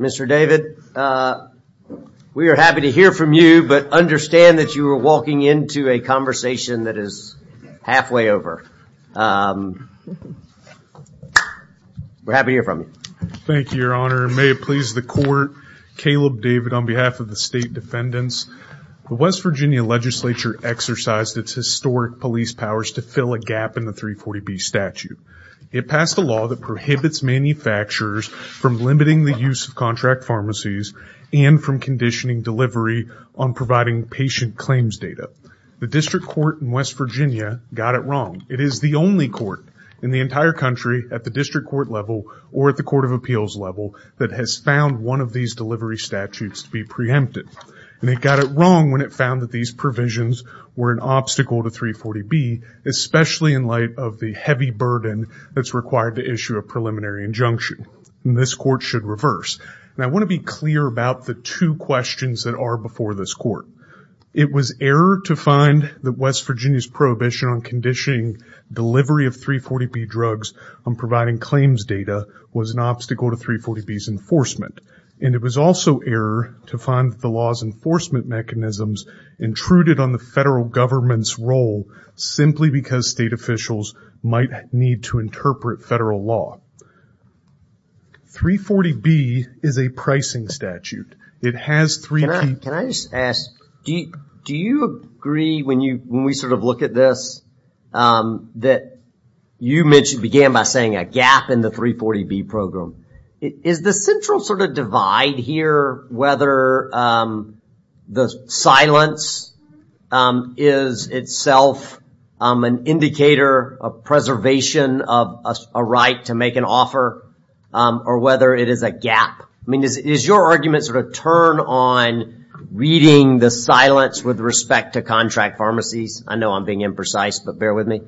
Mr. David, we are happy to hear from you, but understand that you are walking into a conversation that is halfway over. We're happy to hear from you. Thank you, Your Honor. May it please the Court, Caleb David on behalf of the State Defendants. The West Virginia Legislature exercised its historic police powers to fill a gap in the 340B statute. It passed a law that prohibits manufacturers from limiting the use of contract pharmacies and from conditioning delivery on providing patient claims data. The District Court in West Virginia got it wrong. It is the only court in the entire country at the District Court level or at the Court of Appeals level that has found one of these delivery statutes to be preempted. It got it wrong when it found that these provisions were an obstacle to 340B, especially in light of the heavy burden that is required to issue a preliminary injunction. This Court should reverse. I want to be clear about the two questions that are before this Court. It was error to find that West Virginia's prohibition on conditioning delivery of 340B drugs on providing claims data was an obstacle to 340B's enforcement. And it was also error to find that the law's enforcement mechanisms intruded on the federal government's role simply because state officials might need to interpret federal law. 340B is a pricing statute. It has three... Can I just ask, do you agree when we sort of look at this that you began by saying a gap in the 340B program? Is the central sort of divide here whether the silence is itself an indicator of preservation of a right to make an offer or whether it is a gap? I mean, is your argument sort of turn on reading the silence with respect to contract pharmacies? I know I'm being imprecise, but bear with me.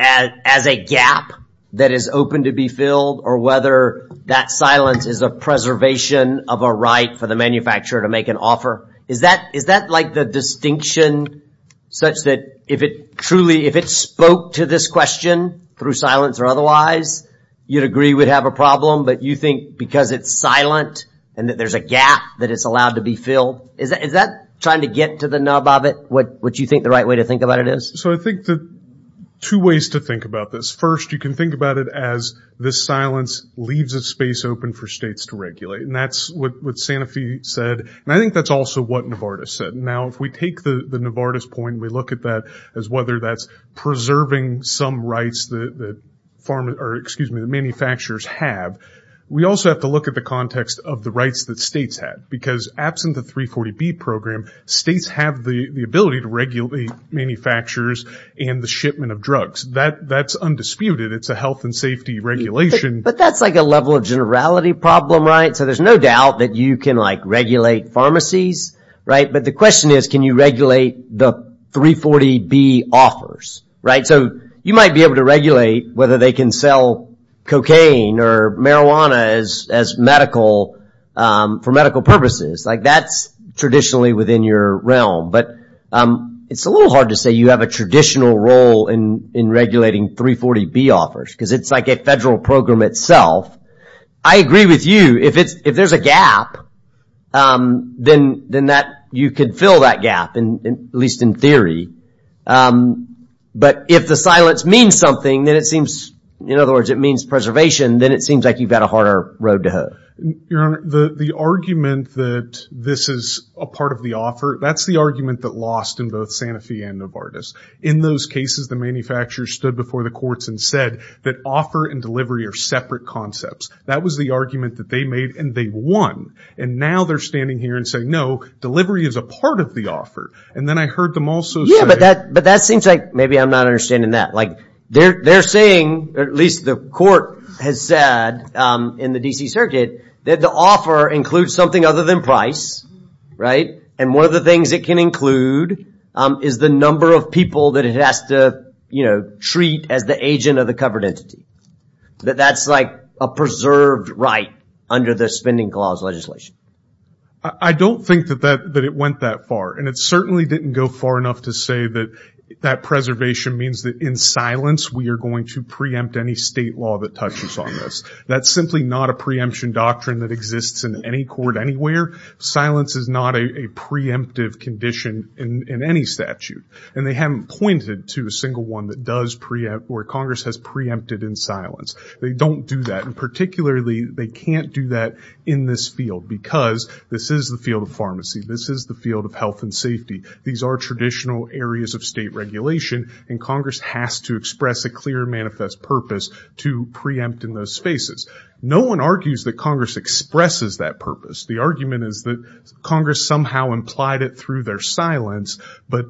As a gap that is open to be filled or whether that silence is a preservation of a right for the manufacturer to make an offer. Is that like the distinction such that if it truly... If it spoke to this question through silence or otherwise, you'd agree we'd have a problem. But you think because it's silent and that there's a gap that it's allowed to be filled. Is that trying to get to the nub of it, what you think the right way to think about it is? So I think that two ways to think about this. First, you can think about it as this silence leaves a space open for states to regulate. And that's what Santa Fe said. And I think that's also what Novartis said. Now, if we take the Novartis point and we look at that as whether that's preserving some rights that manufacturers have, we also have to look at the context of the rights that states have. Because absent the 340B program, states have the ability to regulate manufacturers and the shipment of drugs. That's undisputed. It's a health and safety regulation. But that's like a level of generality problem, right? So there's no doubt that you can like regulate pharmacies, right? But the question is, can you regulate the 340B offers, right? So you might be able to regulate whether they can sell cocaine or marijuana for medical purposes. Like that's traditionally within your realm. But it's a little hard to say you have a traditional role in regulating 340B offers. Because it's like a federal program itself. I agree with you. If there's a gap, then you could fill that gap, at least in theory. But if the silence means something, then it seems, in other words, it means preservation, then it seems like you've got a harder road to hoe. Your Honor, the argument that this is a part of the offer, that's the argument that lost in both Santa Fe and Novartis. In those cases, the manufacturers stood before the courts and said that offer and delivery are separate concepts. That was the argument that they made and they won. And now they're standing here and saying, no, delivery is a part of the offer. And then I heard them also say. Yeah, but that seems like maybe I'm not understanding that. Like they're saying, at least the court has said in the D.C. Circuit, that the offer includes something other than price, right? And one of the things it can include is the number of people that it has to treat as the agent of the covered entity. That that's like a preserved right under the spending clause legislation. I don't think that it went that far. And it certainly didn't go far enough to say that that preservation means that in silence we are going to preempt any state law that touches on this. That's simply not a preemption doctrine that exists in any court anywhere. Silence is not a preemptive condition in any statute. And they haven't pointed to a single one that does preempt or Congress has preempted in silence. They don't do that. And particularly, they can't do that in this field because this is the field of pharmacy. This is the field of health and safety. These are traditional areas of state regulation, and Congress has to express a clear manifest purpose to preempt in those spaces. No one argues that Congress expresses that purpose. The argument is that Congress somehow implied it through their silence, but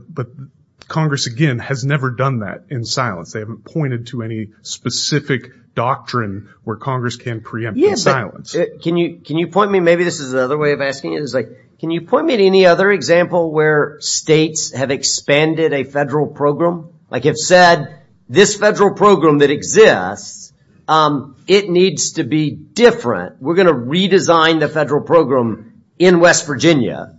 Congress, again, has never done that in silence. They haven't pointed to any specific doctrine where Congress can preempt in silence. Can you point me? Maybe this is another way of asking it. Can you point me to any other example where states have expanded a federal program? Like you've said, this federal program that exists, it needs to be different. We're going to redesign the federal program in West Virginia,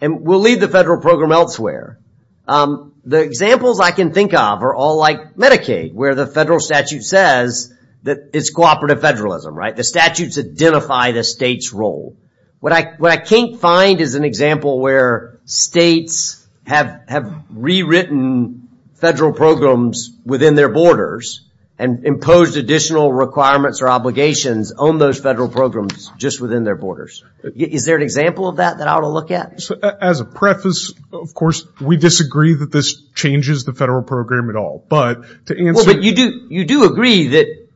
and we'll leave the federal program elsewhere. The examples I can think of are all like Medicaid, where the federal statute says that it's cooperative federalism, right? The statutes identify the state's role. What I can't find is an example where states have rewritten federal programs within their borders and imposed additional requirements or obligations on those federal programs just within their borders. Is there an example of that that I ought to look at? As a preface, of course, we disagree that this changes the federal program at all. You do agree that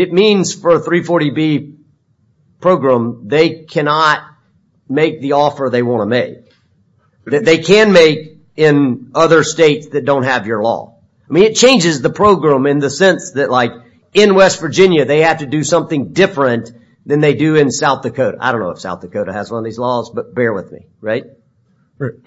it means for a 340B program, they cannot make the offer they want to make. They can make in other states that don't have your law. I mean, it changes the program in the sense that like in West Virginia, they have to do something different than they do in South Dakota. I don't know if South Dakota has one of these laws, but bear with me, right?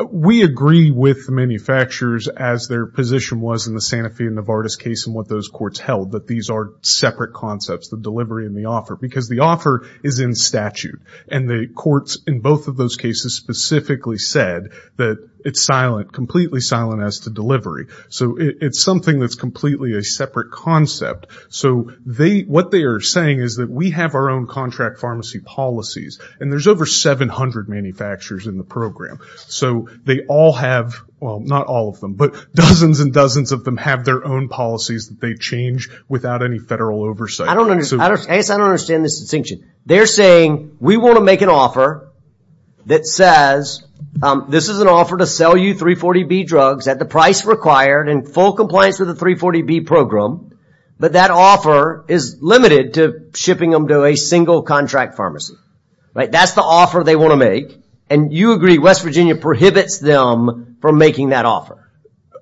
We agree with the manufacturers as their position was in the Santa Fe and Novartis case and what those courts held, that these are separate concepts, the delivery and the offer, because the offer is in statute, and the courts in both of those cases specifically said that it's silent, completely silent as to delivery. So it's something that's completely a separate concept. So what they are saying is that we have our own contract pharmacy policies, and there's over 700 manufacturers in the program. So they all have, well, not all of them, but dozens and dozens of them have their own policies that they change without any federal oversight. I guess I don't understand this distinction. They're saying we want to make an offer that says this is an offer to sell you 340B drugs at the price required in full compliance with the 340B program, but that offer is limited to shipping them to a single contract pharmacy. That's the offer they want to make, and you agree West Virginia prohibits them from making that offer.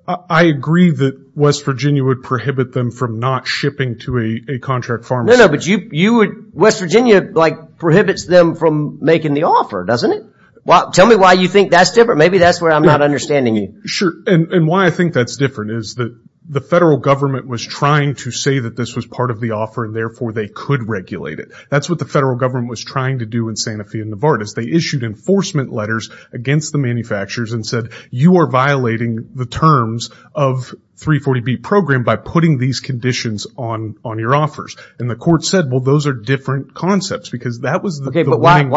I agree that West Virginia would prohibit them from not shipping to a contract pharmacy. No, no, but West Virginia prohibits them from making the offer, doesn't it? Tell me why you think that's different. Maybe that's where I'm not understanding you. Sure, and why I think that's different is that the federal government was trying to say that this was part of the offer, and therefore they could regulate it. That's what the federal government was trying to do in Santa Fe and Novartis. They issued enforcement letters against the manufacturers and said, you are violating the terms of 340B program by putting these conditions on your offers. And the court said, well, those are different concepts, because that was the winning argument. Okay, but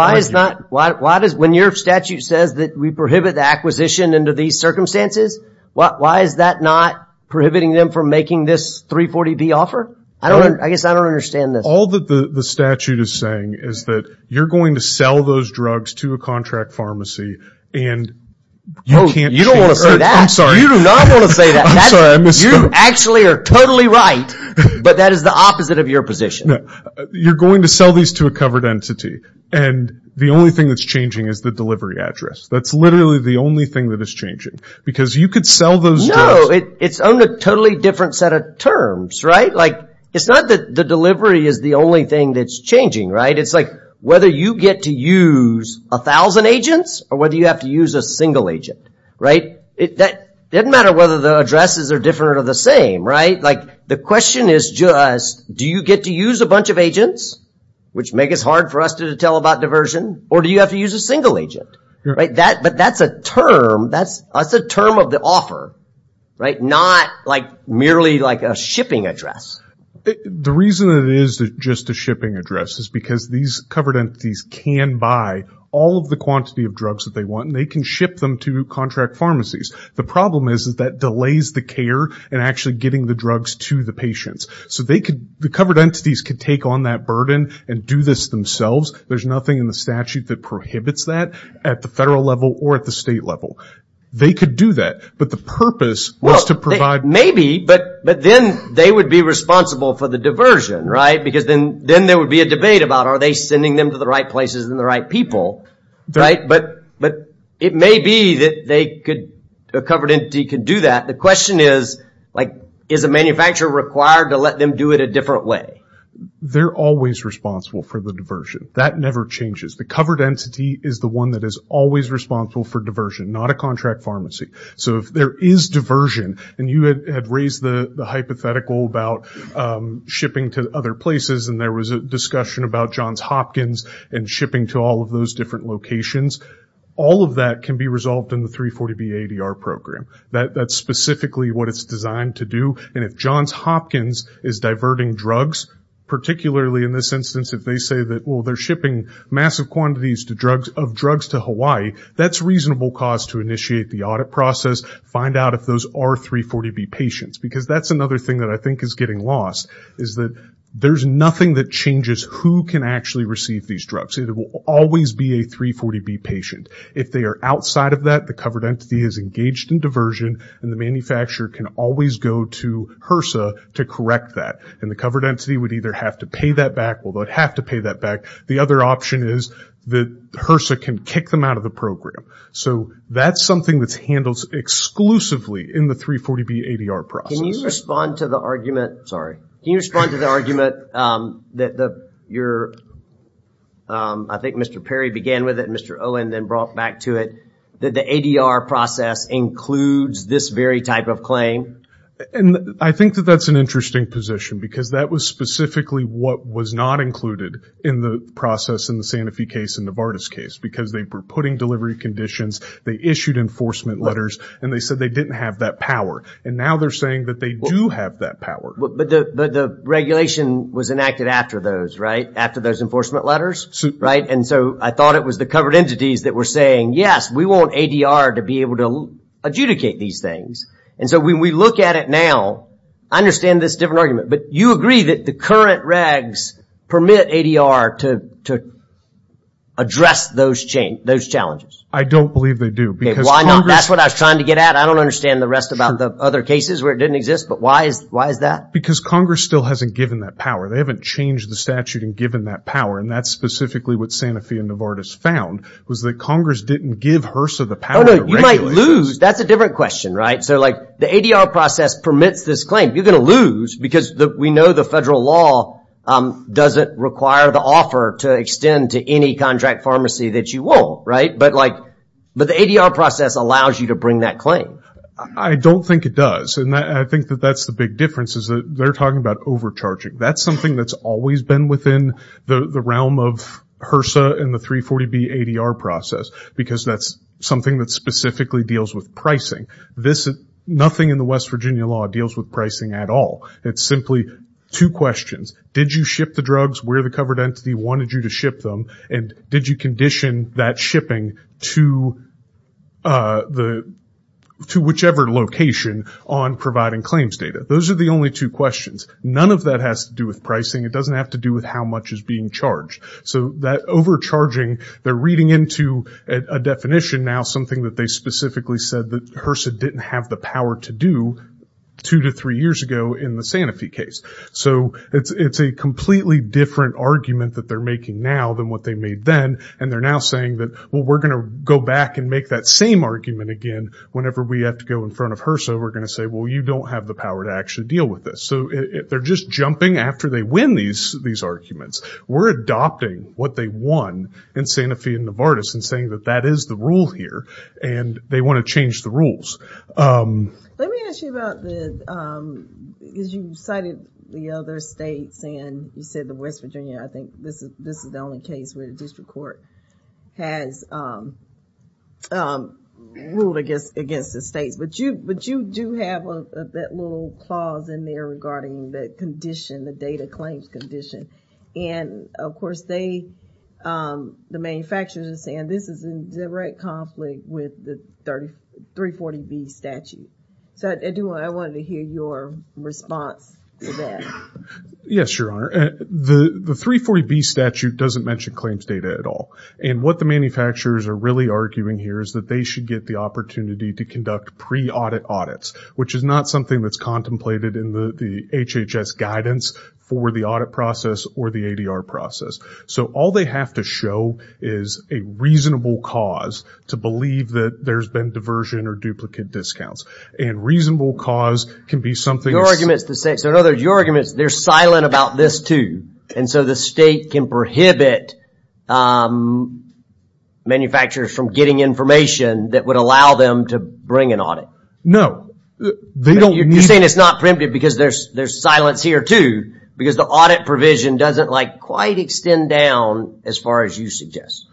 why is that? When your statute says that we prohibit the acquisition under these circumstances, why is that not prohibiting them from making this 340B offer? I guess I don't understand this. All that the statute is saying is that you're going to sell those drugs to a contract pharmacy, and you can't change that. You don't want to say that. I'm sorry. You do not want to say that. I'm sorry, I missed that. You actually are totally right, but that is the opposite of your position. You're going to sell these to a covered entity, and the only thing that's changing is the delivery address. That's literally the only thing that is changing, because you could sell those drugs. No, it's on a totally different set of terms, right? It's not that the delivery is the only thing that's changing, right? It's like whether you get to use 1,000 agents or whether you have to use a single agent, right? It doesn't matter whether the addresses are different or the same, right? The question is just do you get to use a bunch of agents, which make it hard for us to tell about diversion, or do you have to use a single agent? But that's a term of the offer, right? Not merely like a shipping address. The reason it is just a shipping address is because these covered entities can buy all of the quantity of drugs that they want, and they can ship them to contract pharmacies. The problem is that delays the care in actually getting the drugs to the patients. So the covered entities could take on that burden and do this themselves. There's nothing in the statute that prohibits that. At the federal level or at the state level, they could do that. But the purpose was to provide... Maybe, but then they would be responsible for the diversion, right? Because then there would be a debate about are they sending them to the right places and the right people, right? But it may be that a covered entity could do that. The question is, like, is a manufacturer required to let them do it a different way? They're always responsible for the diversion. That never changes. The covered entity is the one that is always responsible for diversion, not a contract pharmacy. So if there is diversion, and you had raised the hypothetical about shipping to other places, and there was a discussion about Johns Hopkins and shipping to all of those different locations, all of that can be resolved in the 340B-ADR program. That's specifically what it's designed to do. And if Johns Hopkins is diverting drugs, particularly in this instance, if they say that, well, they're shipping massive quantities of drugs to Hawaii, that's reasonable cause to initiate the audit process, find out if those are 340B patients. Because that's another thing that I think is getting lost, is that there's nothing that changes who can actually receive these drugs. It will always be a 340B patient. If they are outside of that, the covered entity is engaged in diversion, and the manufacturer can always go to HRSA to correct that. And the covered entity would either have to pay that back or would have to pay that back. The other option is that HRSA can kick them out of the program. So that's something that's handled exclusively in the 340B-ADR process. Can you respond to the argument that your, I think Mr. Perry began with it, and Mr. Owen then brought back to it, that the ADR process includes this very type of claim? I think that that's an interesting position, because that was specifically what was not included in the process in the Santa Fe case and the Vardis case. Because they were putting delivery conditions, they issued enforcement letters, and they said they didn't have that power. And now they're saying that they do have that power. But the regulation was enacted after those, right? After those enforcement letters? And so I thought it was the covered entities that were saying, yes, we want ADR to be able to adjudicate these things. And so when we look at it now, I understand this different argument. But you agree that the current regs permit ADR to address those challenges? I don't believe they do. Why not? That's what I was trying to get at. I don't understand the rest about the other cases where it didn't exist, but why is that? Because Congress still hasn't given that power. They haven't changed the statute and given that power. And that's specifically what Santa Fe and the Vardis found, was that Congress didn't give HRSA the power to regulate. You might lose. That's a different question, right? So, like, the ADR process permits this claim. You're going to lose because we know the federal law doesn't require the offer to extend to any contract pharmacy that you want, right? But, like, the ADR process allows you to bring that claim. I don't think it does. And I think that that's the big difference is that they're talking about overcharging. That's something that's always been within the realm of HRSA and the 340B ADR process because that's something that specifically deals with pricing. Nothing in the West Virginia law deals with pricing at all. It's simply two questions. Did you ship the drugs where the covered entity wanted you to ship them? And did you condition that shipping to whichever location on providing claims data? Those are the only two questions. None of that has to do with pricing. It doesn't have to do with how much is being charged. So that overcharging, they're reading into a definition now, something that they specifically said that HRSA didn't have the power to do two to three years ago in the Sanofi case. So it's a completely different argument that they're making now than what they made then, and they're now saying that, well, we're going to go back and make that same argument again whenever we have to go in front of HRSA. We're going to say, well, you don't have the power to actually deal with this. So they're just jumping after they win these arguments. We're adopting what they won in Sanofi and Novartis and saying that that is the rule here, and they want to change the rules. Let me ask you about the – because you cited the other states and you said the West Virginia. I think this is the only case where the district court has ruled against the states. But you do have that little clause in there regarding the condition, the data claims condition. And, of course, the manufacturers are saying this is in direct conflict with the 340B statute. So I wanted to hear your response to that. Yes, Your Honor. The 340B statute doesn't mention claims data at all. And what the manufacturers are really arguing here is that they should get the opportunity to conduct pre-audit audits, which is not something that's contemplated in the HHS guidance for the audit process or the ADR process. So all they have to show is a reasonable cause to believe that there's been diversion or duplicate discounts. And reasonable cause can be something – Your argument is the same. So in other words, your argument is they're silent about this too. And so the state can prohibit manufacturers from getting information that would allow them to bring an audit. No. You're saying it's not preemptive because there's silence here too. Because the audit provision doesn't quite extend down as far as you suggest.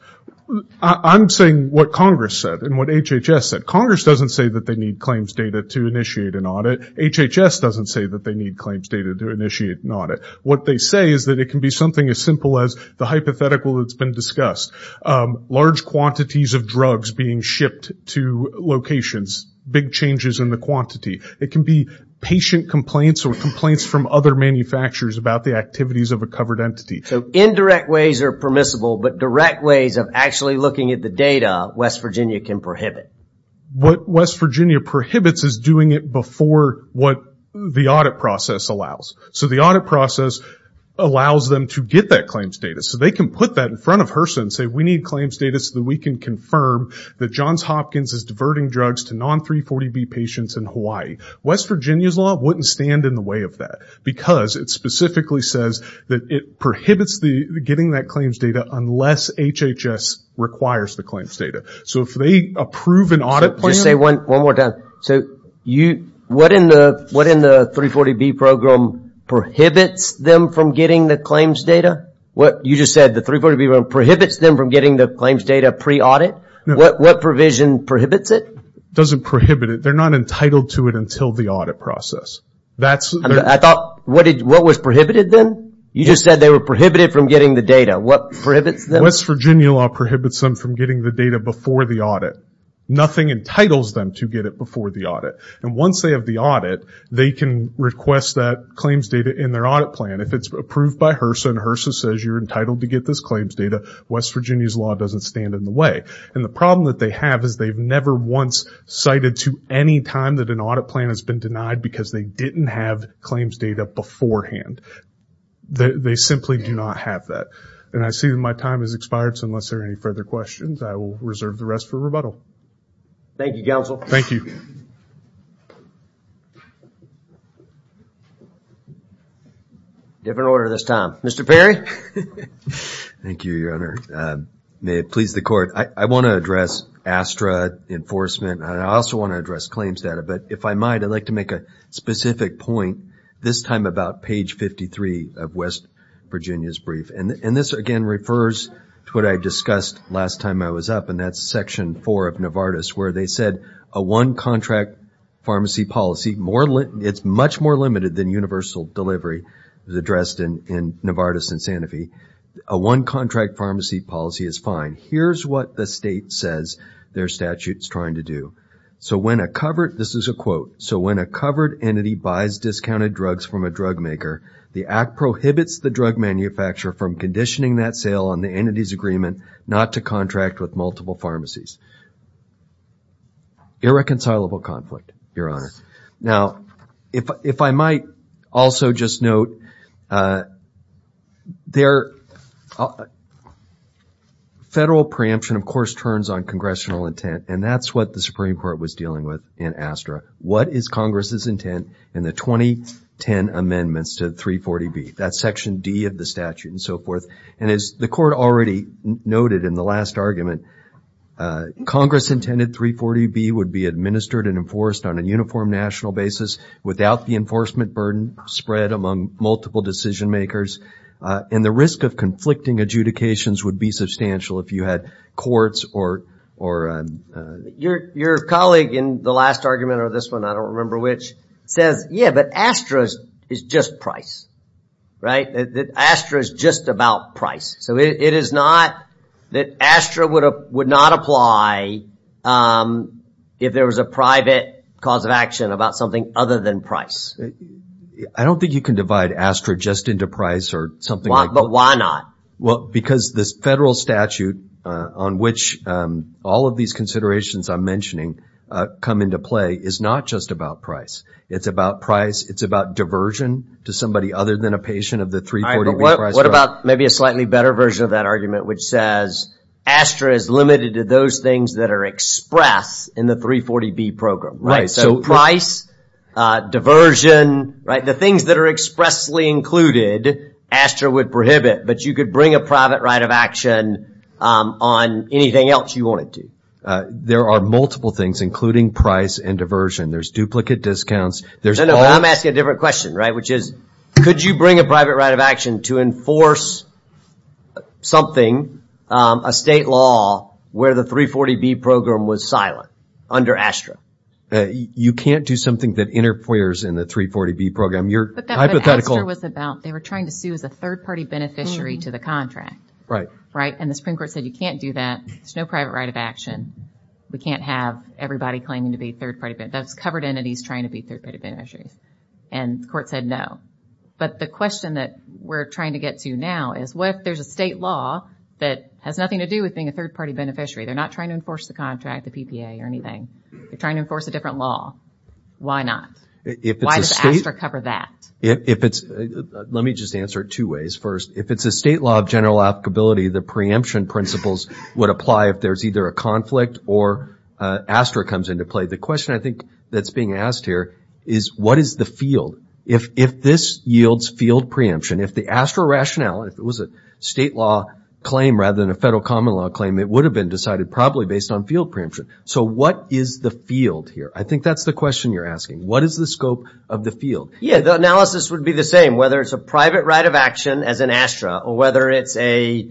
I'm saying what Congress said and what HHS said. Congress doesn't say that they need claims data to initiate an audit. HHS doesn't say that they need claims data to initiate an audit. What they say is that it can be something as simple as the hypothetical that's been discussed. Large quantities of drugs being shipped to locations, big changes in the quantity. It can be patient complaints or complaints from other manufacturers about the activities of a covered entity. So indirect ways are permissible, but direct ways of actually looking at the data West Virginia can prohibit. What West Virginia prohibits is doing it before what the audit process allows. So the audit process allows them to get that claims data. So they can put that in front of HRSA and say we need claims data so that we can confirm that Johns Hopkins is diverting drugs to non-340B patients in Hawaii. West Virginia's law wouldn't stand in the way of that because it specifically says that it prohibits getting that claims data unless HHS requires the claims data. So if they approve an audit plan... Just say one more time. So what in the 340B program prohibits them from getting the claims data? You just said the 340B program prohibits them from getting the claims data pre-audit? What provision prohibits it? It doesn't prohibit it. They're not entitled to it until the audit process. I thought, what was prohibited then? You just said they were prohibited from getting the data. What prohibits them? West Virginia law prohibits them from getting the data before the audit. Nothing entitles them to get it before the audit. And once they have the audit, they can request that claims data in their audit plan. If it's approved by HRSA and HRSA says you're entitled to get this claims data, West Virginia's law doesn't stand in the way. And the problem that they have is they've never once cited to any time that an audit plan has been denied because they didn't have claims data beforehand. They simply do not have that. And I see that my time has expired, so unless there are any further questions, I will reserve the rest for rebuttal. Thank you, Counsel. Thank you. Different order this time. Mr. Perry? Thank you, Your Honor. May it please the Court. I want to address ASTRA enforcement, and I also want to address claims data. But if I might, I'd like to make a specific point, this time about page 53 of West Virginia's brief. And this, again, refers to what I discussed last time I was up, and that's section 4 of Novartis where they said a one-contract pharmacy policy, it's much more limited than universal delivery addressed in Novartis and Sanofi. A one-contract pharmacy policy is fine. Here's what the state says their statute's trying to do. So when a covered, this is a quote, so when a covered entity buys discounted drugs from a drug maker, the act prohibits the drug manufacturer from conditioning that sale on the entity's agreement not to contract with multiple pharmacies. Irreconcilable conflict, Your Honor. Now, if I might also just note, federal preemption, of course, turns on congressional intent, and that's what the Supreme Court was dealing with in ASTRA. What is Congress's intent in the 2010 amendments to 340B? That's section D of the statute and so forth. And as the court already noted in the last argument, Congress intended 340B would be administered and enforced on a uniform national basis without the enforcement burden spread among multiple decision makers, and the risk of conflicting adjudications would be substantial if you had courts or your colleague in the last argument or this one, I don't remember which, says, yeah, but ASTRA is just price, right? That ASTRA is just about price. So it is not that ASTRA would not apply if there was a private cause of action about something other than price. I don't think you can divide ASTRA just into price or something like that. But why not? Well, because this federal statute on which all of these considerations I'm mentioning come into play is not just about price. It's about price. It's about diversion to somebody other than a patient of the 340B price drug. What about maybe a slightly better version of that argument which says ASTRA is limited to those things that are expressed in the 340B program. So price, diversion, the things that are expressly included, ASTRA would prohibit. But you could bring a private right of action on anything else you wanted to. There are multiple things, including price and diversion. There's duplicate discounts. No, no, I'm asking a different question, right? Which is, could you bring a private right of action to enforce something, a state law where the 340B program was silent under ASTRA? You can't do something that interferes in the 340B program. But ASTRA was about, they were trying to sue as a third-party beneficiary to the contract. Right. And the Supreme Court said you can't do that. There's no private right of action. We can't have everybody claiming to be a third-party beneficiary. That's covered entities trying to be third-party beneficiaries. And the court said no. But the question that we're trying to get to now is, what if there's a state law that has nothing to do with being a third-party beneficiary? They're not trying to enforce the contract, the PPA, or anything. They're trying to enforce a different law. Why not? Why does ASTRA cover that? Let me just answer it two ways. First, if it's a state law of general applicability, the preemption principles would apply if there's either a conflict or ASTRA comes into play. The question I think that's being asked here is, what is the field? If this yields field preemption, if the ASTRA rationale, if it was a state law claim rather than a federal common law claim, it would have been decided probably based on field preemption. So what is the field here? I think that's the question you're asking. What is the scope of the field? Yeah, the analysis would be the same, whether it's a private right of action as an ASTRA or whether it's a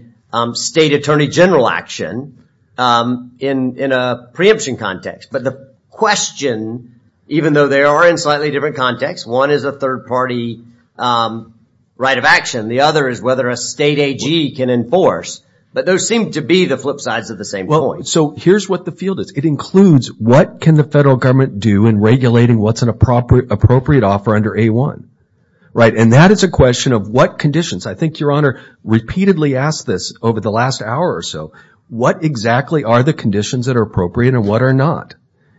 state attorney general action in a preemption context. But the question, even though they are in slightly different contexts, one is a third party right of action. The other is whether a state AG can enforce. But those seem to be the flip sides of the same coin. So here's what the field is. It includes what can the federal government do in regulating what's an appropriate offer under A1. And that is a question of what conditions. I think Your Honor repeatedly asked this over the last hour or so. What exactly are the conditions that are appropriate and what are not?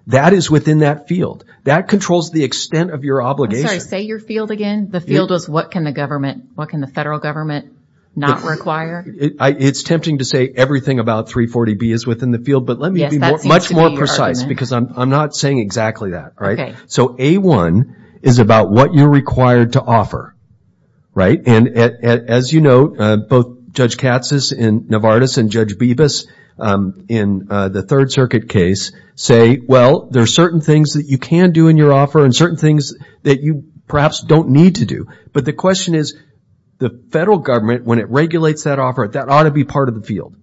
That is within that field. That controls the extent of your obligation. I'm sorry, say your field again. The field is what can the government, what can the federal government not require. It's tempting to say everything about 340B is within the field, but let me be much more precise because I'm not saying exactly that. So A1 is about what you're required to offer. And as you know, both Judge Katsas in Novartis and Judge Bibas in the Third Circuit case say, well, there are certain things that you can do in your offer and certain things that you perhaps don't need to do. But the question is the federal government, when it regulates that offer, that ought to be part of the field.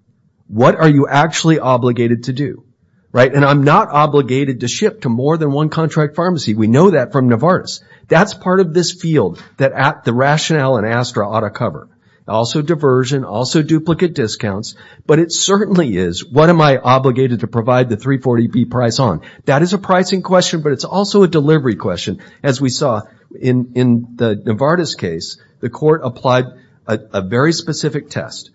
What are you actually obligated to do? And I'm not obligated to ship to more than one contract pharmacy. We know that from Novartis. That's part of this field that the rationale in ASTRA ought to cover. Also diversion, also duplicate discounts, but it certainly is what am I obligated to provide the 340B price on. That is a pricing question, but it's also a delivery question. As we saw in the Novartis case, the court applied a very specific test.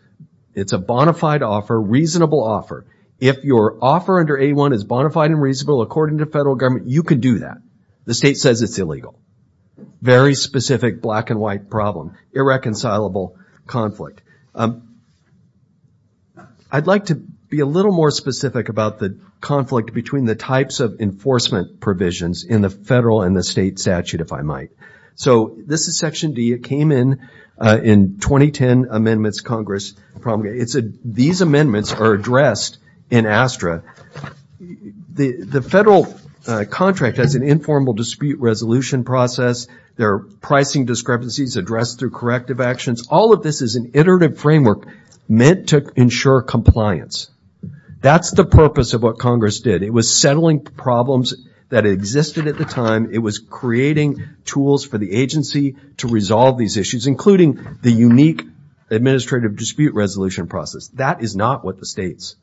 It's a bona fide offer, reasonable offer. If your offer under A1 is bona fide and reasonable, according to federal government, you can do that. The state says it's illegal. Very specific black and white problem. Irreconcilable conflict. I'd like to be a little more specific about the conflict between the types of enforcement provisions in the federal and the state statute, if I might. So this is Section D. It came in 2010 amendments Congress promulgated. These amendments are addressed in ASTRA. The federal contract has an informal dispute resolution process. There are pricing discrepancies addressed through corrective actions. All of this is an iterative framework meant to ensure compliance. That's the purpose of what Congress did. It was settling problems that existed at the time. It was creating tools for the agency to resolve these issues, including the unique administrative dispute resolution process. That is not what the state's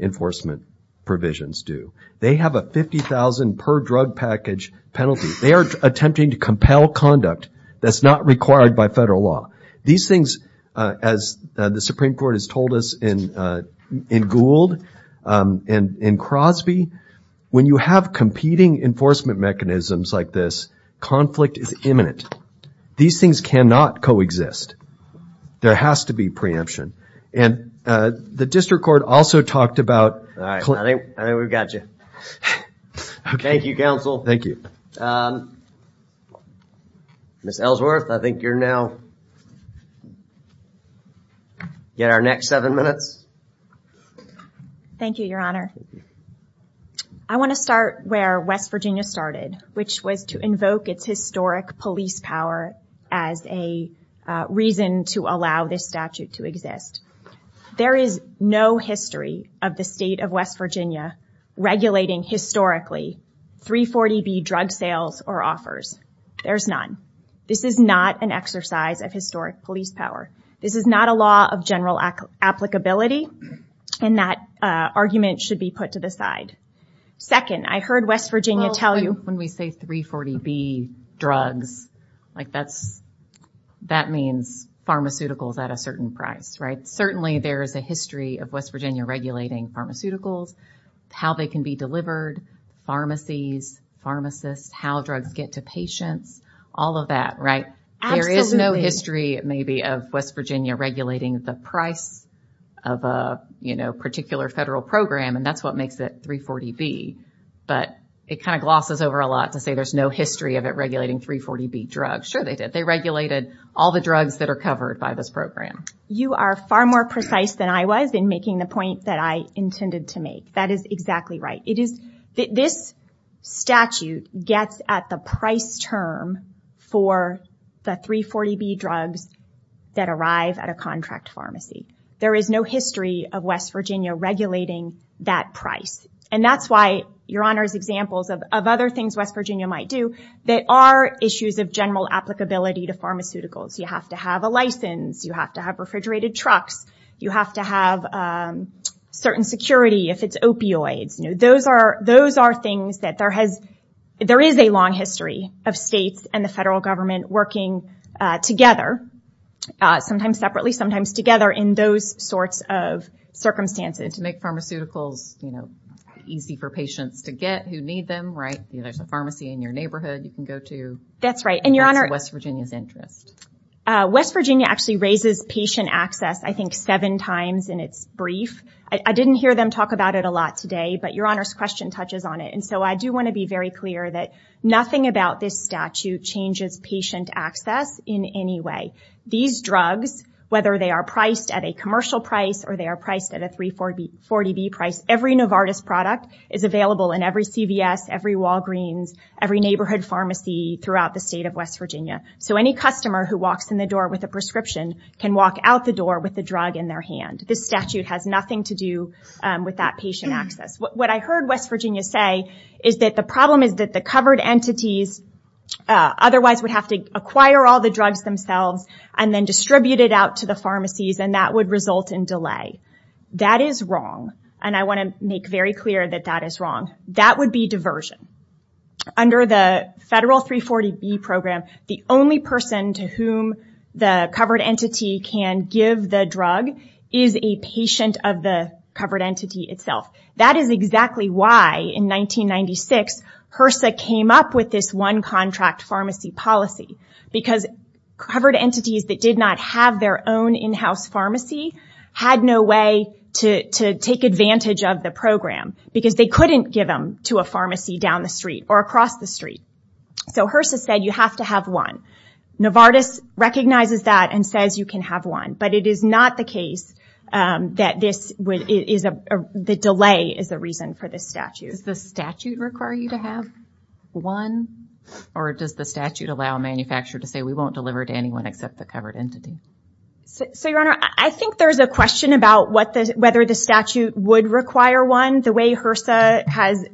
enforcement provisions do. They have a $50,000 per drug package penalty. They are attempting to compel conduct that's not required by federal law. These things, as the Supreme Court has told us in Gould and Crosby, when you have competing enforcement mechanisms like this, conflict is imminent. These things cannot coexist. There has to be preemption. The district court also talked about... All right, I think we've got you. Thank you, counsel. Thank you. Ms. Ellsworth, I think you're now at our next seven minutes. Thank you, Your Honor. I want to start where West Virginia started, which was to invoke its historic police power as a reason to allow this statute to exist. There is no history of the state of West Virginia regulating historically 340B drug sales or offers. There's none. This is not an exercise of historic police power. This is not a law of general applicability, and that argument should be put to the side. Second, I heard West Virginia tell you... Certainly there is a history of West Virginia regulating pharmaceuticals, how they can be delivered, pharmacies, pharmacists, how drugs get to patients, all of that, right? There is no history, maybe, of West Virginia regulating the price of a particular federal program, and that's what makes it 340B. But it kind of glosses over a lot to say there's no history of it regulating 340B drugs. Sure they did. All the drugs that are covered by this program. You are far more precise than I was in making the point that I intended to make. That is exactly right. This statute gets at the price term for the 340B drugs that arrive at a contract pharmacy. There is no history of West Virginia regulating that price, and that's why, Your Honor's examples of other things West Virginia might do that are issues of general applicability to pharmaceuticals. You have to have a license. You have to have refrigerated trucks. You have to have certain security if it's opioids. Those are things that there is a long history of states and the federal government working together, sometimes separately, sometimes together, in those sorts of circumstances. And to make pharmaceuticals easy for patients to get who need them, right? There's a pharmacy in your neighborhood you can go to. That's right. And that's West Virginia's interest. West Virginia actually raises patient access, I think, seven times in its brief. I didn't hear them talk about it a lot today, but Your Honor's question touches on it. And so I do want to be very clear that nothing about this statute changes patient access in any way. These drugs, whether they are priced at a commercial price or they are priced at a 340B price, every Novartis product is available in every CVS, every Walgreens, every neighborhood pharmacy throughout the state of West Virginia. So any customer who walks in the door with a prescription can walk out the door with the drug in their hand. This statute has nothing to do with that patient access. What I heard West Virginia say is that the problem is that the covered entities otherwise would have to acquire all the drugs themselves and then distribute it out to the pharmacies, and that would result in delay. That is wrong. And I want to make very clear that that is wrong. That would be diversion. Under the federal 340B program, the only person to whom the covered entity can give the drug is a patient of the covered entity itself. That is exactly why, in 1996, HRSA came up with this one-contract pharmacy policy, because covered entities that did not have their own in-house pharmacy had no way to take advantage of the program, because they couldn't give them to a pharmacy down the street or across the street. So HRSA said you have to have one. Novartis recognizes that and says you can have one, but it is not the case that the delay is the reason for this statute. Does the statute require you to have one, or does the statute allow a manufacturer to say we won't deliver to anyone except the covered entity? So, Your Honor, I think there's a question about whether the statute would require one. The way HRSA has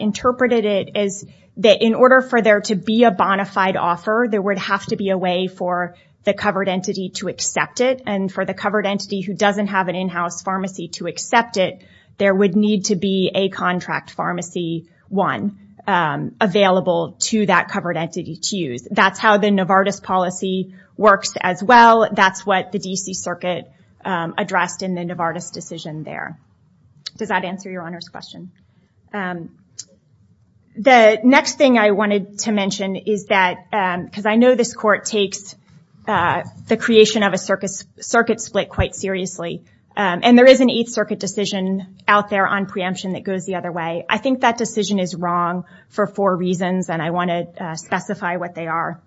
interpreted it is that in order for there to be a bonafide offer, there would have to be a way for the covered entity to accept it, and for the covered entity who doesn't have an in-house pharmacy to accept it, there would need to be a contract pharmacy, one, available to that covered entity to use. That's how the Novartis policy works as well. That's what the D.C. Circuit addressed in the Novartis decision there. Does that answer Your Honor's question? The next thing I wanted to mention is that, because I know this court takes the creation of a circuit split quite seriously, and there is an Eighth Circuit decision out there on preemption that goes the other way. I think that decision is wrong for four reasons, and I want to specify what they are.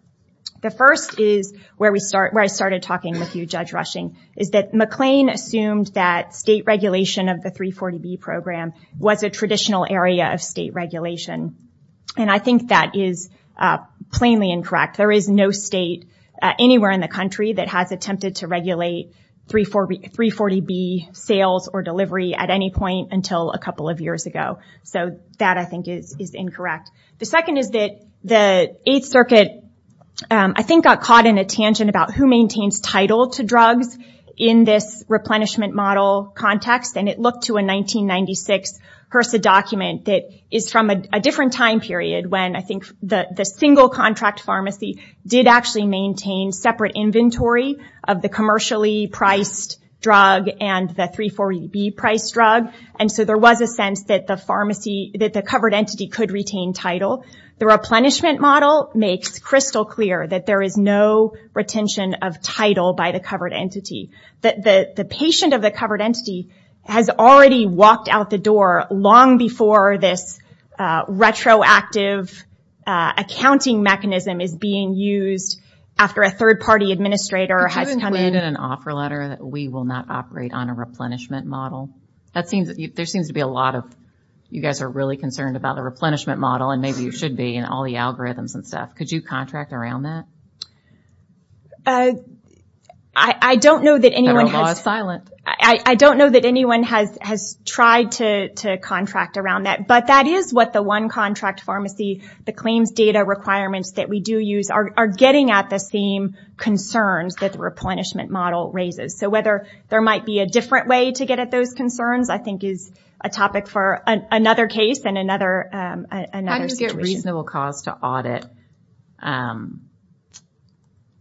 The first is where I started talking with you, Judge Rushing, is that McLean assumed that state regulation of the 340B program was a traditional area of state regulation, and I think that is plainly incorrect. There is no state anywhere in the country that has attempted to regulate 340B sales or delivery at any point until a couple of years ago. So that, I think, is incorrect. The second is that the Eighth Circuit, I think, got caught in a tangent about who maintains title to drugs in this replenishment model context, and it looked to a 1996 HRSA document that is from a different time period when I think the single contract pharmacy did actually maintain separate inventory of the commercially priced drug and the 340B priced drug. So there was a sense that the covered entity could retain title. The replenishment model makes crystal clear that there is no retention of title by the covered entity. The patient of the covered entity has already walked out the door long before this retroactive accounting mechanism is being used after a third-party administrator has come in. Isn't it an offer letter that we will not operate on a replenishment model? There seems to be a lot of, you guys are really concerned about the replenishment model, and maybe you should be, and all the algorithms and stuff. Could you contract around that? Federal law is silent. I don't know that anyone has tried to contract around that, but that is what the one contract pharmacy, the claims data requirements that we do use, are getting at the same concerns that the replenishment model raises. So whether there might be a different way to get at those concerns I think is a topic for another case and another situation. How do you get reasonable cause to audit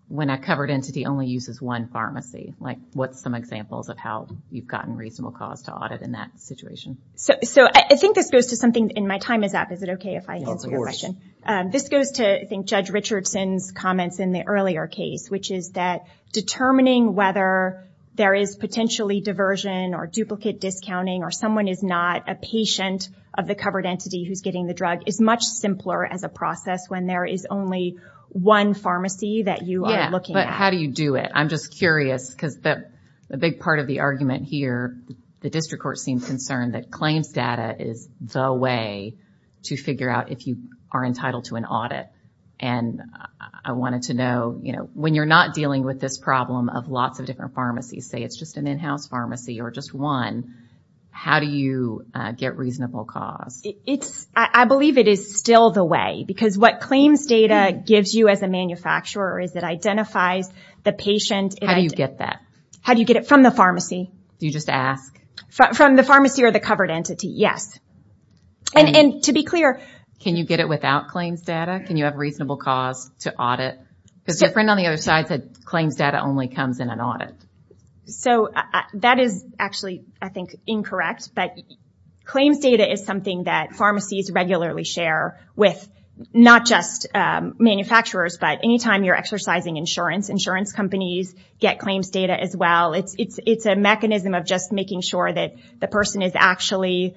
when a covered entity only uses one pharmacy? What are some examples of how you've gotten reasonable cause to audit in that situation? I think this goes to something, and my time is up. Is it okay if I answer your question? This goes to, I think, Judge Richardson's comments in the earlier case, which is that determining whether there is potentially diversion or duplicate discounting or someone is not a patient of the covered entity who's getting the drug is much simpler as a process when there is only one pharmacy that you are looking at. Yeah, but how do you do it? I'm just curious because a big part of the argument here, the district court seems concerned that claims data is the way to figure out if you are entitled to an audit. And I wanted to know, when you're not dealing with this problem of lots of different pharmacies, say it's just an in-house pharmacy or just one, how do you get reasonable cause? I believe it is still the way because what claims data gives you as a manufacturer is it identifies the patient. How do you get that? How do you get it? From the pharmacy. Do you just ask? From the pharmacy or the covered entity, yes. And to be clear... Can you get it without claims data? Can you have reasonable cause to audit? Because your friend on the other side said claims data only comes in an audit. So that is actually, I think, incorrect. But claims data is something that pharmacies regularly share with not just manufacturers, but anytime you're exercising insurance. Insurance companies get claims data as well. It's a mechanism of just making sure that the person is actually...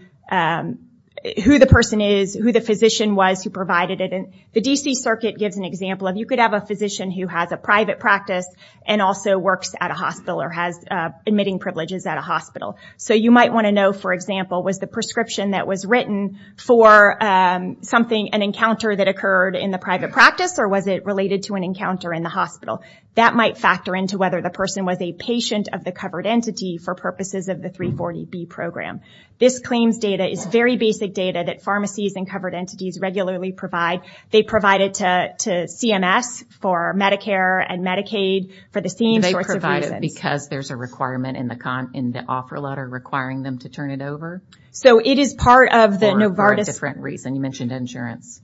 Who the person is, who the physician was who provided it. The D.C. Circuit gives an example of you could have a physician who has a private practice and also works at a hospital or has admitting privileges at a hospital. So you might want to know, for example, was the prescription that was written for an encounter that occurred in the private practice or was it related to an encounter in the hospital? That might factor into whether the person was a patient of the covered entity for purposes of the 340B program. This claims data is very basic data that pharmacies and covered entities regularly provide. They provide it to CMS for Medicare and Medicaid for the same sorts of reasons. And they provide it because there's a requirement in the offer letter requiring them to turn it over? So it is part of the Novartis... For a different reason. You mentioned insurance.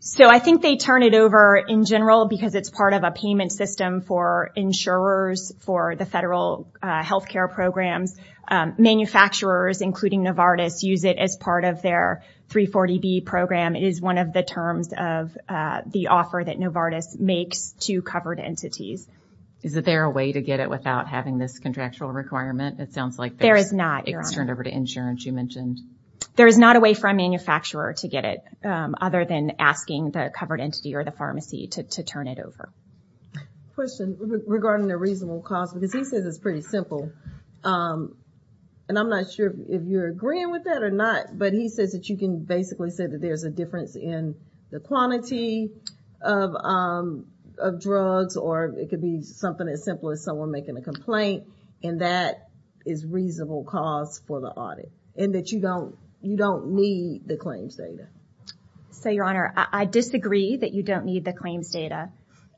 So I think they turn it over in general because it's part of a payment system for insurers for the federal health care programs. Manufacturers, including Novartis, use it as part of their 340B program. It is one of the terms of the offer that Novartis makes to covered entities. Is there a way to get it without having this contractual requirement? It sounds like there's... There is not, Your Honor. It can be turned over to insurance, you mentioned. There is not a way for a manufacturer to get it other than asking the covered entity or the pharmacy to turn it over. Question regarding the reasonable cost. Because he says it's pretty simple. And I'm not sure if you're agreeing with that or not. But he says that you can basically say that there's a difference in the quantity of drugs or it could be something as simple as someone making a complaint. And that is reasonable cost for the audit and that you don't need the claims data. So, Your Honor, I disagree that you don't need the claims data.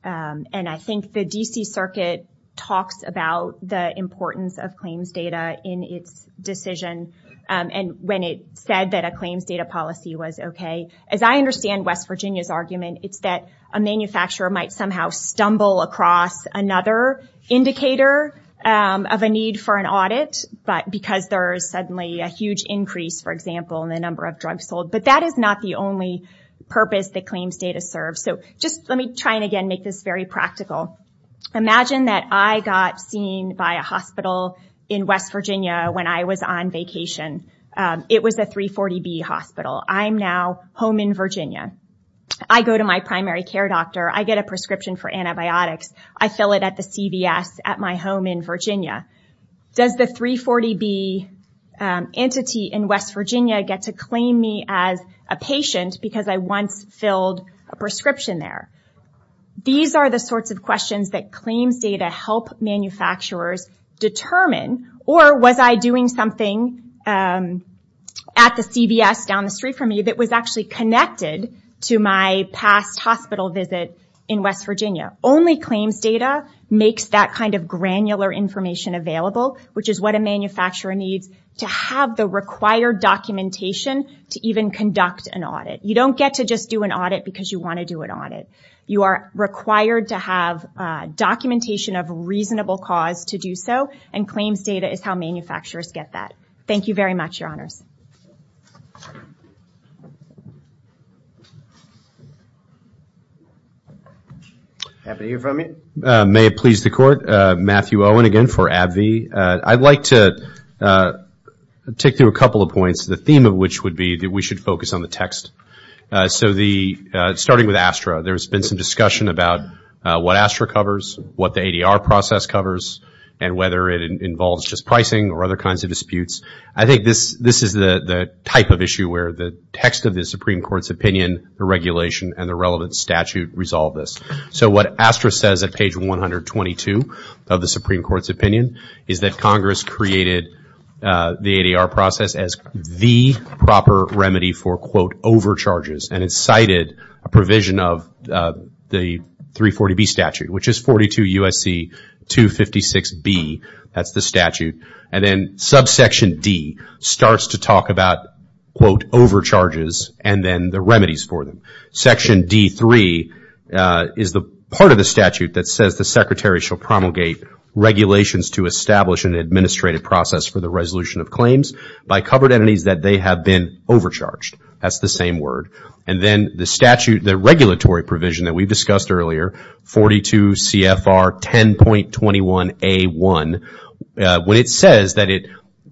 And I think the D.C. Circuit talks about the importance of claims data in its decision. And when it said that a claims data policy was okay. As I understand West Virginia's argument, it's that a manufacturer might somehow stumble across another indicator of a need for an audit. But because there's suddenly a huge increase, for example, in the number of drugs sold. But that is not the only purpose that claims data serves. So, just let me try and again make this very practical. Imagine that I got seen by a hospital in West Virginia when I was on vacation. It was a 340B hospital. I'm now home in Virginia. I go to my primary care doctor. I get a prescription for antibiotics. I fill it at the CVS at my home in Virginia. Does the 340B entity in West Virginia get to claim me as a patient because I once filled a prescription there? These are the sorts of questions that claims data help manufacturers determine. Or was I doing something at the CVS down the street from me that was actually connected to my past hospital visit in West Virginia? Only claims data makes that kind of granular information available, which is what a manufacturer needs to have the required documentation to even conduct an audit. You don't get to just do an audit because you want to do an audit. You are required to have documentation of a reasonable cause to do so. And claims data is how manufacturers get that. Thank you very much, Your Honors. Happy to hear from you. May it please the Court. Matthew Owen again for AbbVie. I'd like to take through a couple of points, the theme of which would be that we should focus on the text. So starting with ASTRA, there's been some discussion about what ASTRA covers, what the ADR process covers, and whether it involves just pricing or other kinds of disputes. I think this is the type of issue where the text of the Supreme Court's opinion, the regulation, and the relevant statute resolve this. So what ASTRA says at page 122 of the Supreme Court's opinion is that Congress created the ADR process as the proper remedy for, quote, overcharges. And it cited a provision of the 340B statute, which is 42 U.S.C. 256B. That's the statute. And then subsection D starts to talk about, quote, overcharges and then the remedies for them. Section D3 is the part of the statute that says the Secretary shall promulgate regulations to establish an administrative process for the resolution of claims by covered entities that they have been overcharged. That's the same word. And then the statute, the regulatory provision that we discussed earlier, 42 CFR 10.21A1, when it says that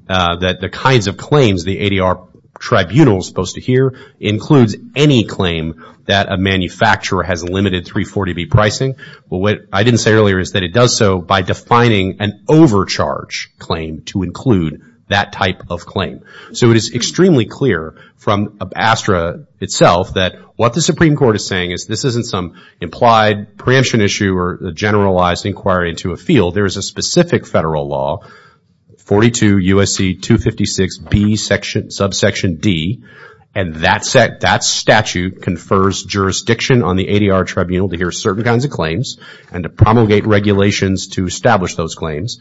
the kinds of claims the ADR tribunal is supposed to hear includes any claim that a manufacturer has limited 340B pricing. Well, what I didn't say earlier is that it does so by defining an overcharge claim to include that type of claim. So it is extremely clear from ASTRA itself that what the Supreme Court is saying is this isn't some implied preemption issue or a generalized inquiry into a field. There is a specific federal law, 42 U.S.C. 256B subsection D, and that statute confers jurisdiction on the ADR tribunal to hear certain kinds of claims and to promulgate regulations to establish those claims.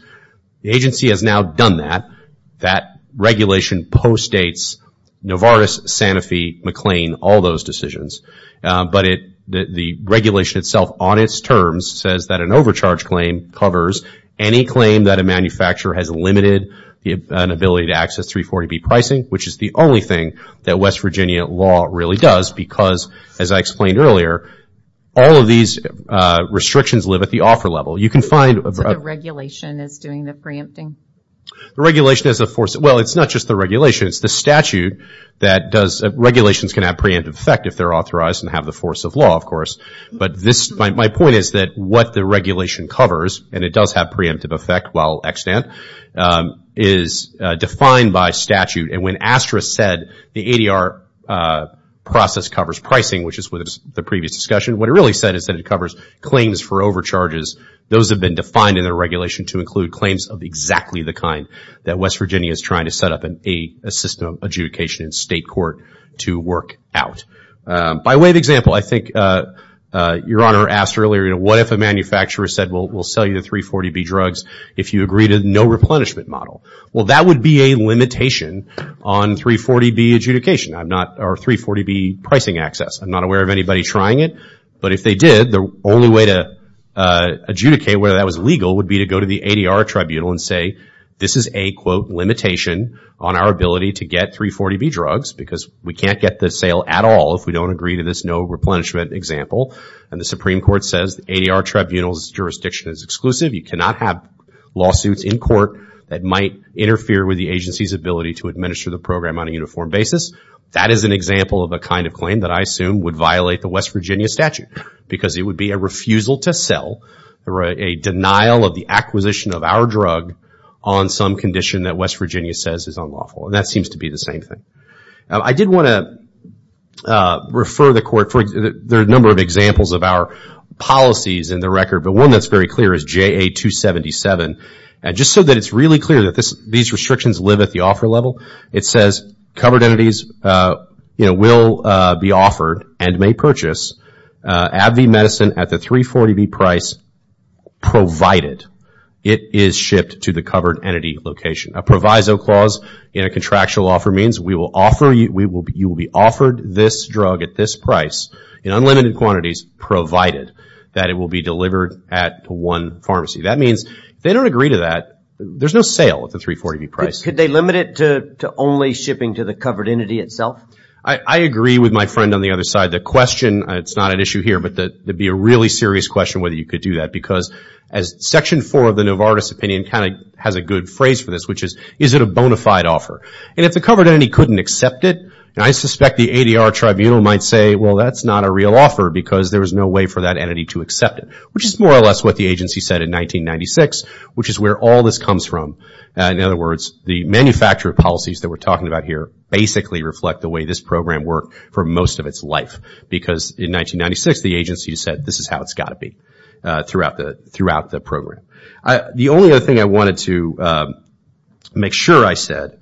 The agency has now done that. That regulation postdates Novartis, Sanofi, McLean, all those decisions. But the regulation itself on its terms says that an overcharge claim covers any claim that a manufacturer has limited an ability to access 340B pricing, which is the only thing that West Virginia law really does because, as I explained earlier, all of these restrictions live at the offer level. You can find... So the regulation is doing the preempting? The regulation is a force. Well, it's not just the regulation. It's the statute that does. Regulations can have preemptive effect if they're authorized and have the force of law, of course. But my point is that what the regulation covers, and it does have preemptive effect while extant, is defined by statute. And when ASTRA said the ADR process covers pricing, which is what the previous discussion, what it really said is that it covers claims for overcharges. Those have been defined in the regulation to include claims of exactly the kind that West Virginia is trying to set up a system of adjudication in state court to work out. By way of example, I think Your Honor asked earlier, what if a manufacturer said we'll sell you the 340B drugs if you agree to the no replenishment model? Well, that would be a limitation on 340B adjudication, or 340B pricing access. I'm not aware of anybody trying it. But if they did, the only way to adjudicate whether that was legal would be to go to the ADR tribunal and say this is a, quote, limitation on our ability to get 340B drugs because we can't get the sale at all if we don't agree to this no replenishment example. And the Supreme Court says the ADR tribunal's jurisdiction is exclusive. You cannot have lawsuits in court that might interfere with the agency's ability to administer the program on a uniform basis. That is an example of a kind of claim that I assume would violate the West Virginia statute because it would be a refusal to sell or a denial of the acquisition of our drug on some condition that West Virginia says is unlawful. And that seems to be the same thing. I did want to refer the court. There are a number of examples of our policies in the record, but one that's very clear is JA-277. And just so that it's really clear that these restrictions live at the offer level, it says covered entities, you know, will be offered and may purchase AbbVie medicine at the 340B price provided it is shipped to the covered entity location. A proviso clause in a contractual offer means we will offer you, you will be offered this drug at this price in unlimited quantities provided that it will be delivered at one pharmacy. That means if they don't agree to that, there's no sale at the 340B price. Could they limit it to only shipping to the covered entity itself? I agree with my friend on the other side. The question, it's not an issue here, but it would be a really serious question whether you could do that because as Section 4 of the Novartis opinion kind of has a good phrase for this, which is, is it a bona fide offer? And if the covered entity couldn't accept it, I suspect the ADR Tribunal might say, well, that's not a real offer because there was no way for that entity to accept it, which is more or less what the agency said in 1996, which is where all this comes from. In other words, the manufacturer policies that we're talking about here basically reflect the way this program worked for most of its life because in 1996, the agency said this is how it's got to be throughout the program. The only other thing I wanted to make sure I said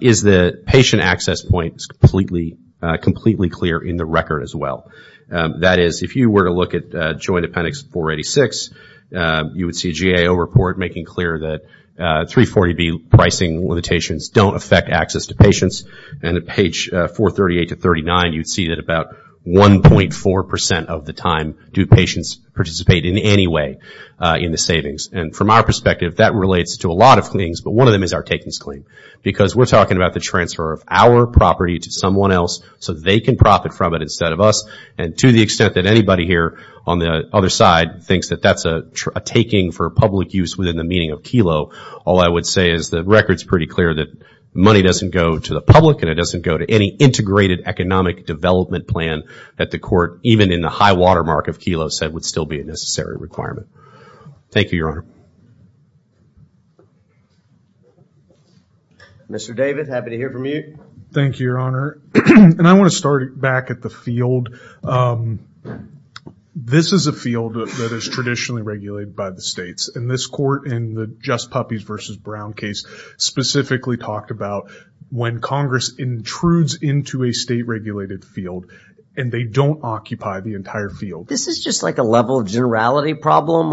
is the patient access point is completely clear in the record as well. That is, if you were to look at Joint Appendix 486, you would see a GAO report making clear that 340B pricing limitations don't affect access to patients. And at page 438 to 439, you'd see that about 1.4 percent of the time do patients participate in any way in the savings. And from our perspective, that relates to a lot of things, but one of them is our takings claim because we're talking about the transfer of our property to someone else so they can profit from it instead of us. And to the extent that anybody here on the other side thinks that that's a taking for public use within the meaning of KELO, all I would say is the record's pretty clear that money doesn't go to the public and it doesn't go to any integrated economic development plan that the court, even in the high watermark of KELO, said would still be a necessary requirement. Thank you, Your Honor. Mr. David, happy to hear from you. Thank you, Your Honor. And I want to start back at the field. This is a field that is traditionally regulated by the states, and this court in the Just Puppies versus Brown case specifically talked about when Congress intrudes into a state-regulated field and they don't occupy the entire field. This is just like a level of generality problem.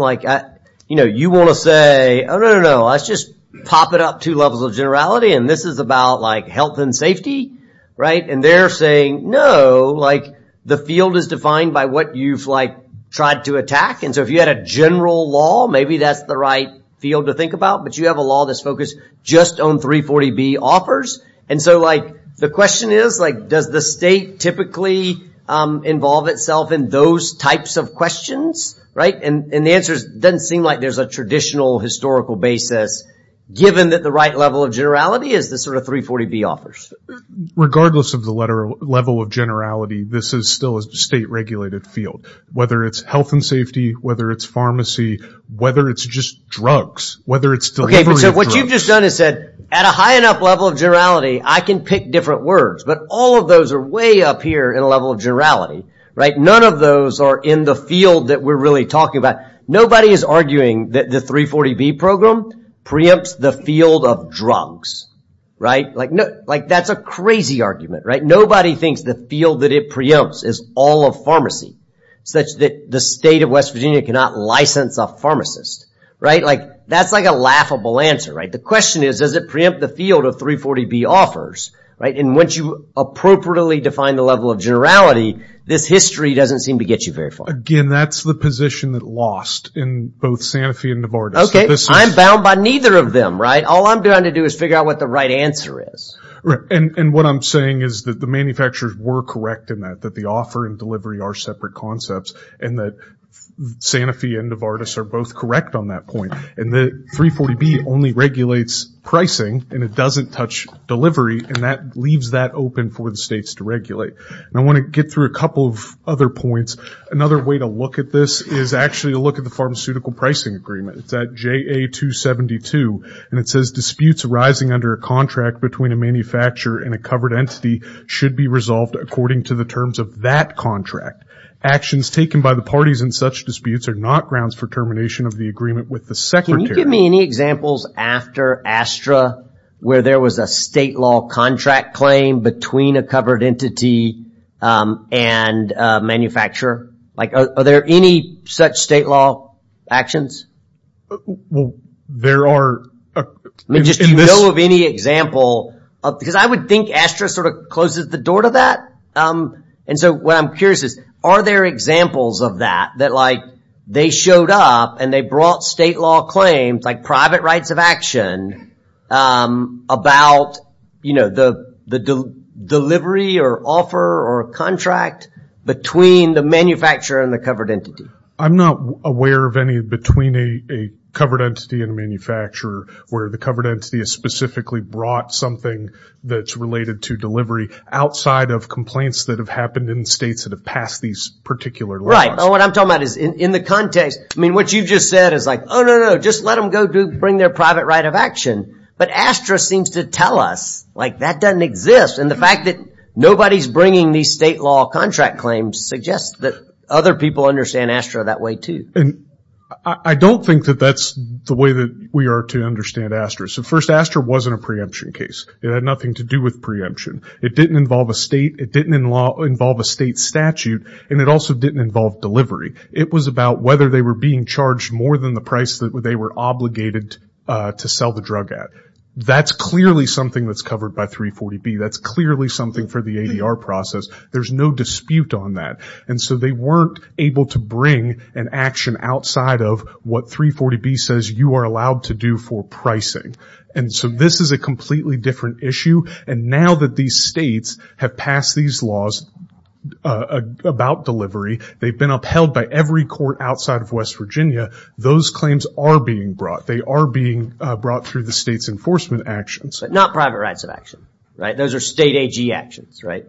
You want to say, oh, no, no, no, let's just pop it up two levels of generality, and this is about health and safety. And they're saying, no, the field is defined by what you've tried to attack. And so if you had a general law, maybe that's the right field to think about, but you have a law that's focused just on 340B offers. And so the question is, does the state typically involve itself in those types of questions? And the answer doesn't seem like there's a traditional historical basis, given that the right level of generality is the sort of 340B offers. Regardless of the level of generality, this is still a state-regulated field, whether it's health and safety, whether it's pharmacy, whether it's just drugs, whether it's delivery of drugs. Okay, so what you've just done is said, at a high enough level of generality, I can pick different words, but all of those are way up here in a level of generality. None of those are in the field that we're really talking about. Nobody is arguing that the 340B program preempts the field of drugs. That's a crazy argument. Nobody thinks the field that it preempts is all of pharmacy, such that the state of West Virginia cannot license a pharmacist. That's a laughable answer. The question is, does it preempt the field of 340B offers? And once you appropriately define the level of generality, this history doesn't seem to get you very far. Again, that's the position that lost in both Sanofi and Novartis. Okay, I'm bound by neither of them, right? All I'm going to do is figure out what the right answer is. And what I'm saying is that the manufacturers were correct in that, that the offer and delivery are separate concepts, and that Sanofi and Novartis are both correct on that point. And the 340B only regulates pricing, and it doesn't touch delivery, and that leaves that open for the states to regulate. And I want to get through a couple of other points. Another way to look at this is actually to look at the pharmaceutical pricing agreement. It's at JA272, and it says, disputes arising under a contract between a manufacturer and a covered entity should be resolved according to the terms of that contract. Actions taken by the parties in such disputes are not grounds for termination of the agreement with the secretary. Can you give me any examples after ASTRA where there was a state law contract claim between a covered entity and a manufacturer? Like, are there any such state law actions? Well, there are... I mean, just do you know of any example? Because I would think ASTRA sort of closes the door to that. And so what I'm curious is, are there examples of that, that like they showed up and they brought state law claims, like private rights of action, about, you know, the delivery or offer or contract between the manufacturer and the covered entity? I'm not aware of any between a covered entity and a manufacturer where the covered entity has specifically brought something that's related to delivery outside of complaints that have happened in states that have passed these particular laws. Right, and what I'm talking about is in the context, I mean, what you just said is like, oh, no, no, just let them go bring their private right of action. But ASTRA seems to tell us, like, that doesn't exist. And the fact that nobody's bringing these state law contract claims suggests that other people understand ASTRA that way too. I don't think that that's the way that we are to understand ASTRA. So first, ASTRA wasn't a preemption case. It had nothing to do with preemption. It didn't involve a state, it didn't involve a state statute, and it also didn't involve delivery. It was about whether they were being charged more than the price that they were obligated to sell the drug at. That's clearly something that's covered by 340B. That's clearly something for the ADR process. There's no dispute on that. And so they weren't able to bring an action outside of what 340B says you are allowed to do for pricing. And so this is a completely different issue. And now that these states have passed these laws about delivery, they've been upheld by every court outside of West Virginia, those claims are being brought. They are being brought through the state's enforcement actions. But not private rights of action, right? Those are state AG actions, right?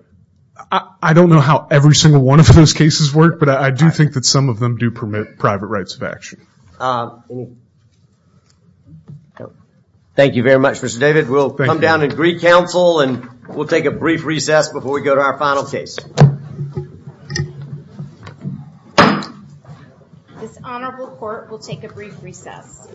I don't know how every single one of those cases work, but I do think that some of them do permit private rights of action. Thank you very much, Mr. David. We'll come down and greet counsel, and we'll take a brief recess before we go to our final case. This honorable court will take a brief recess.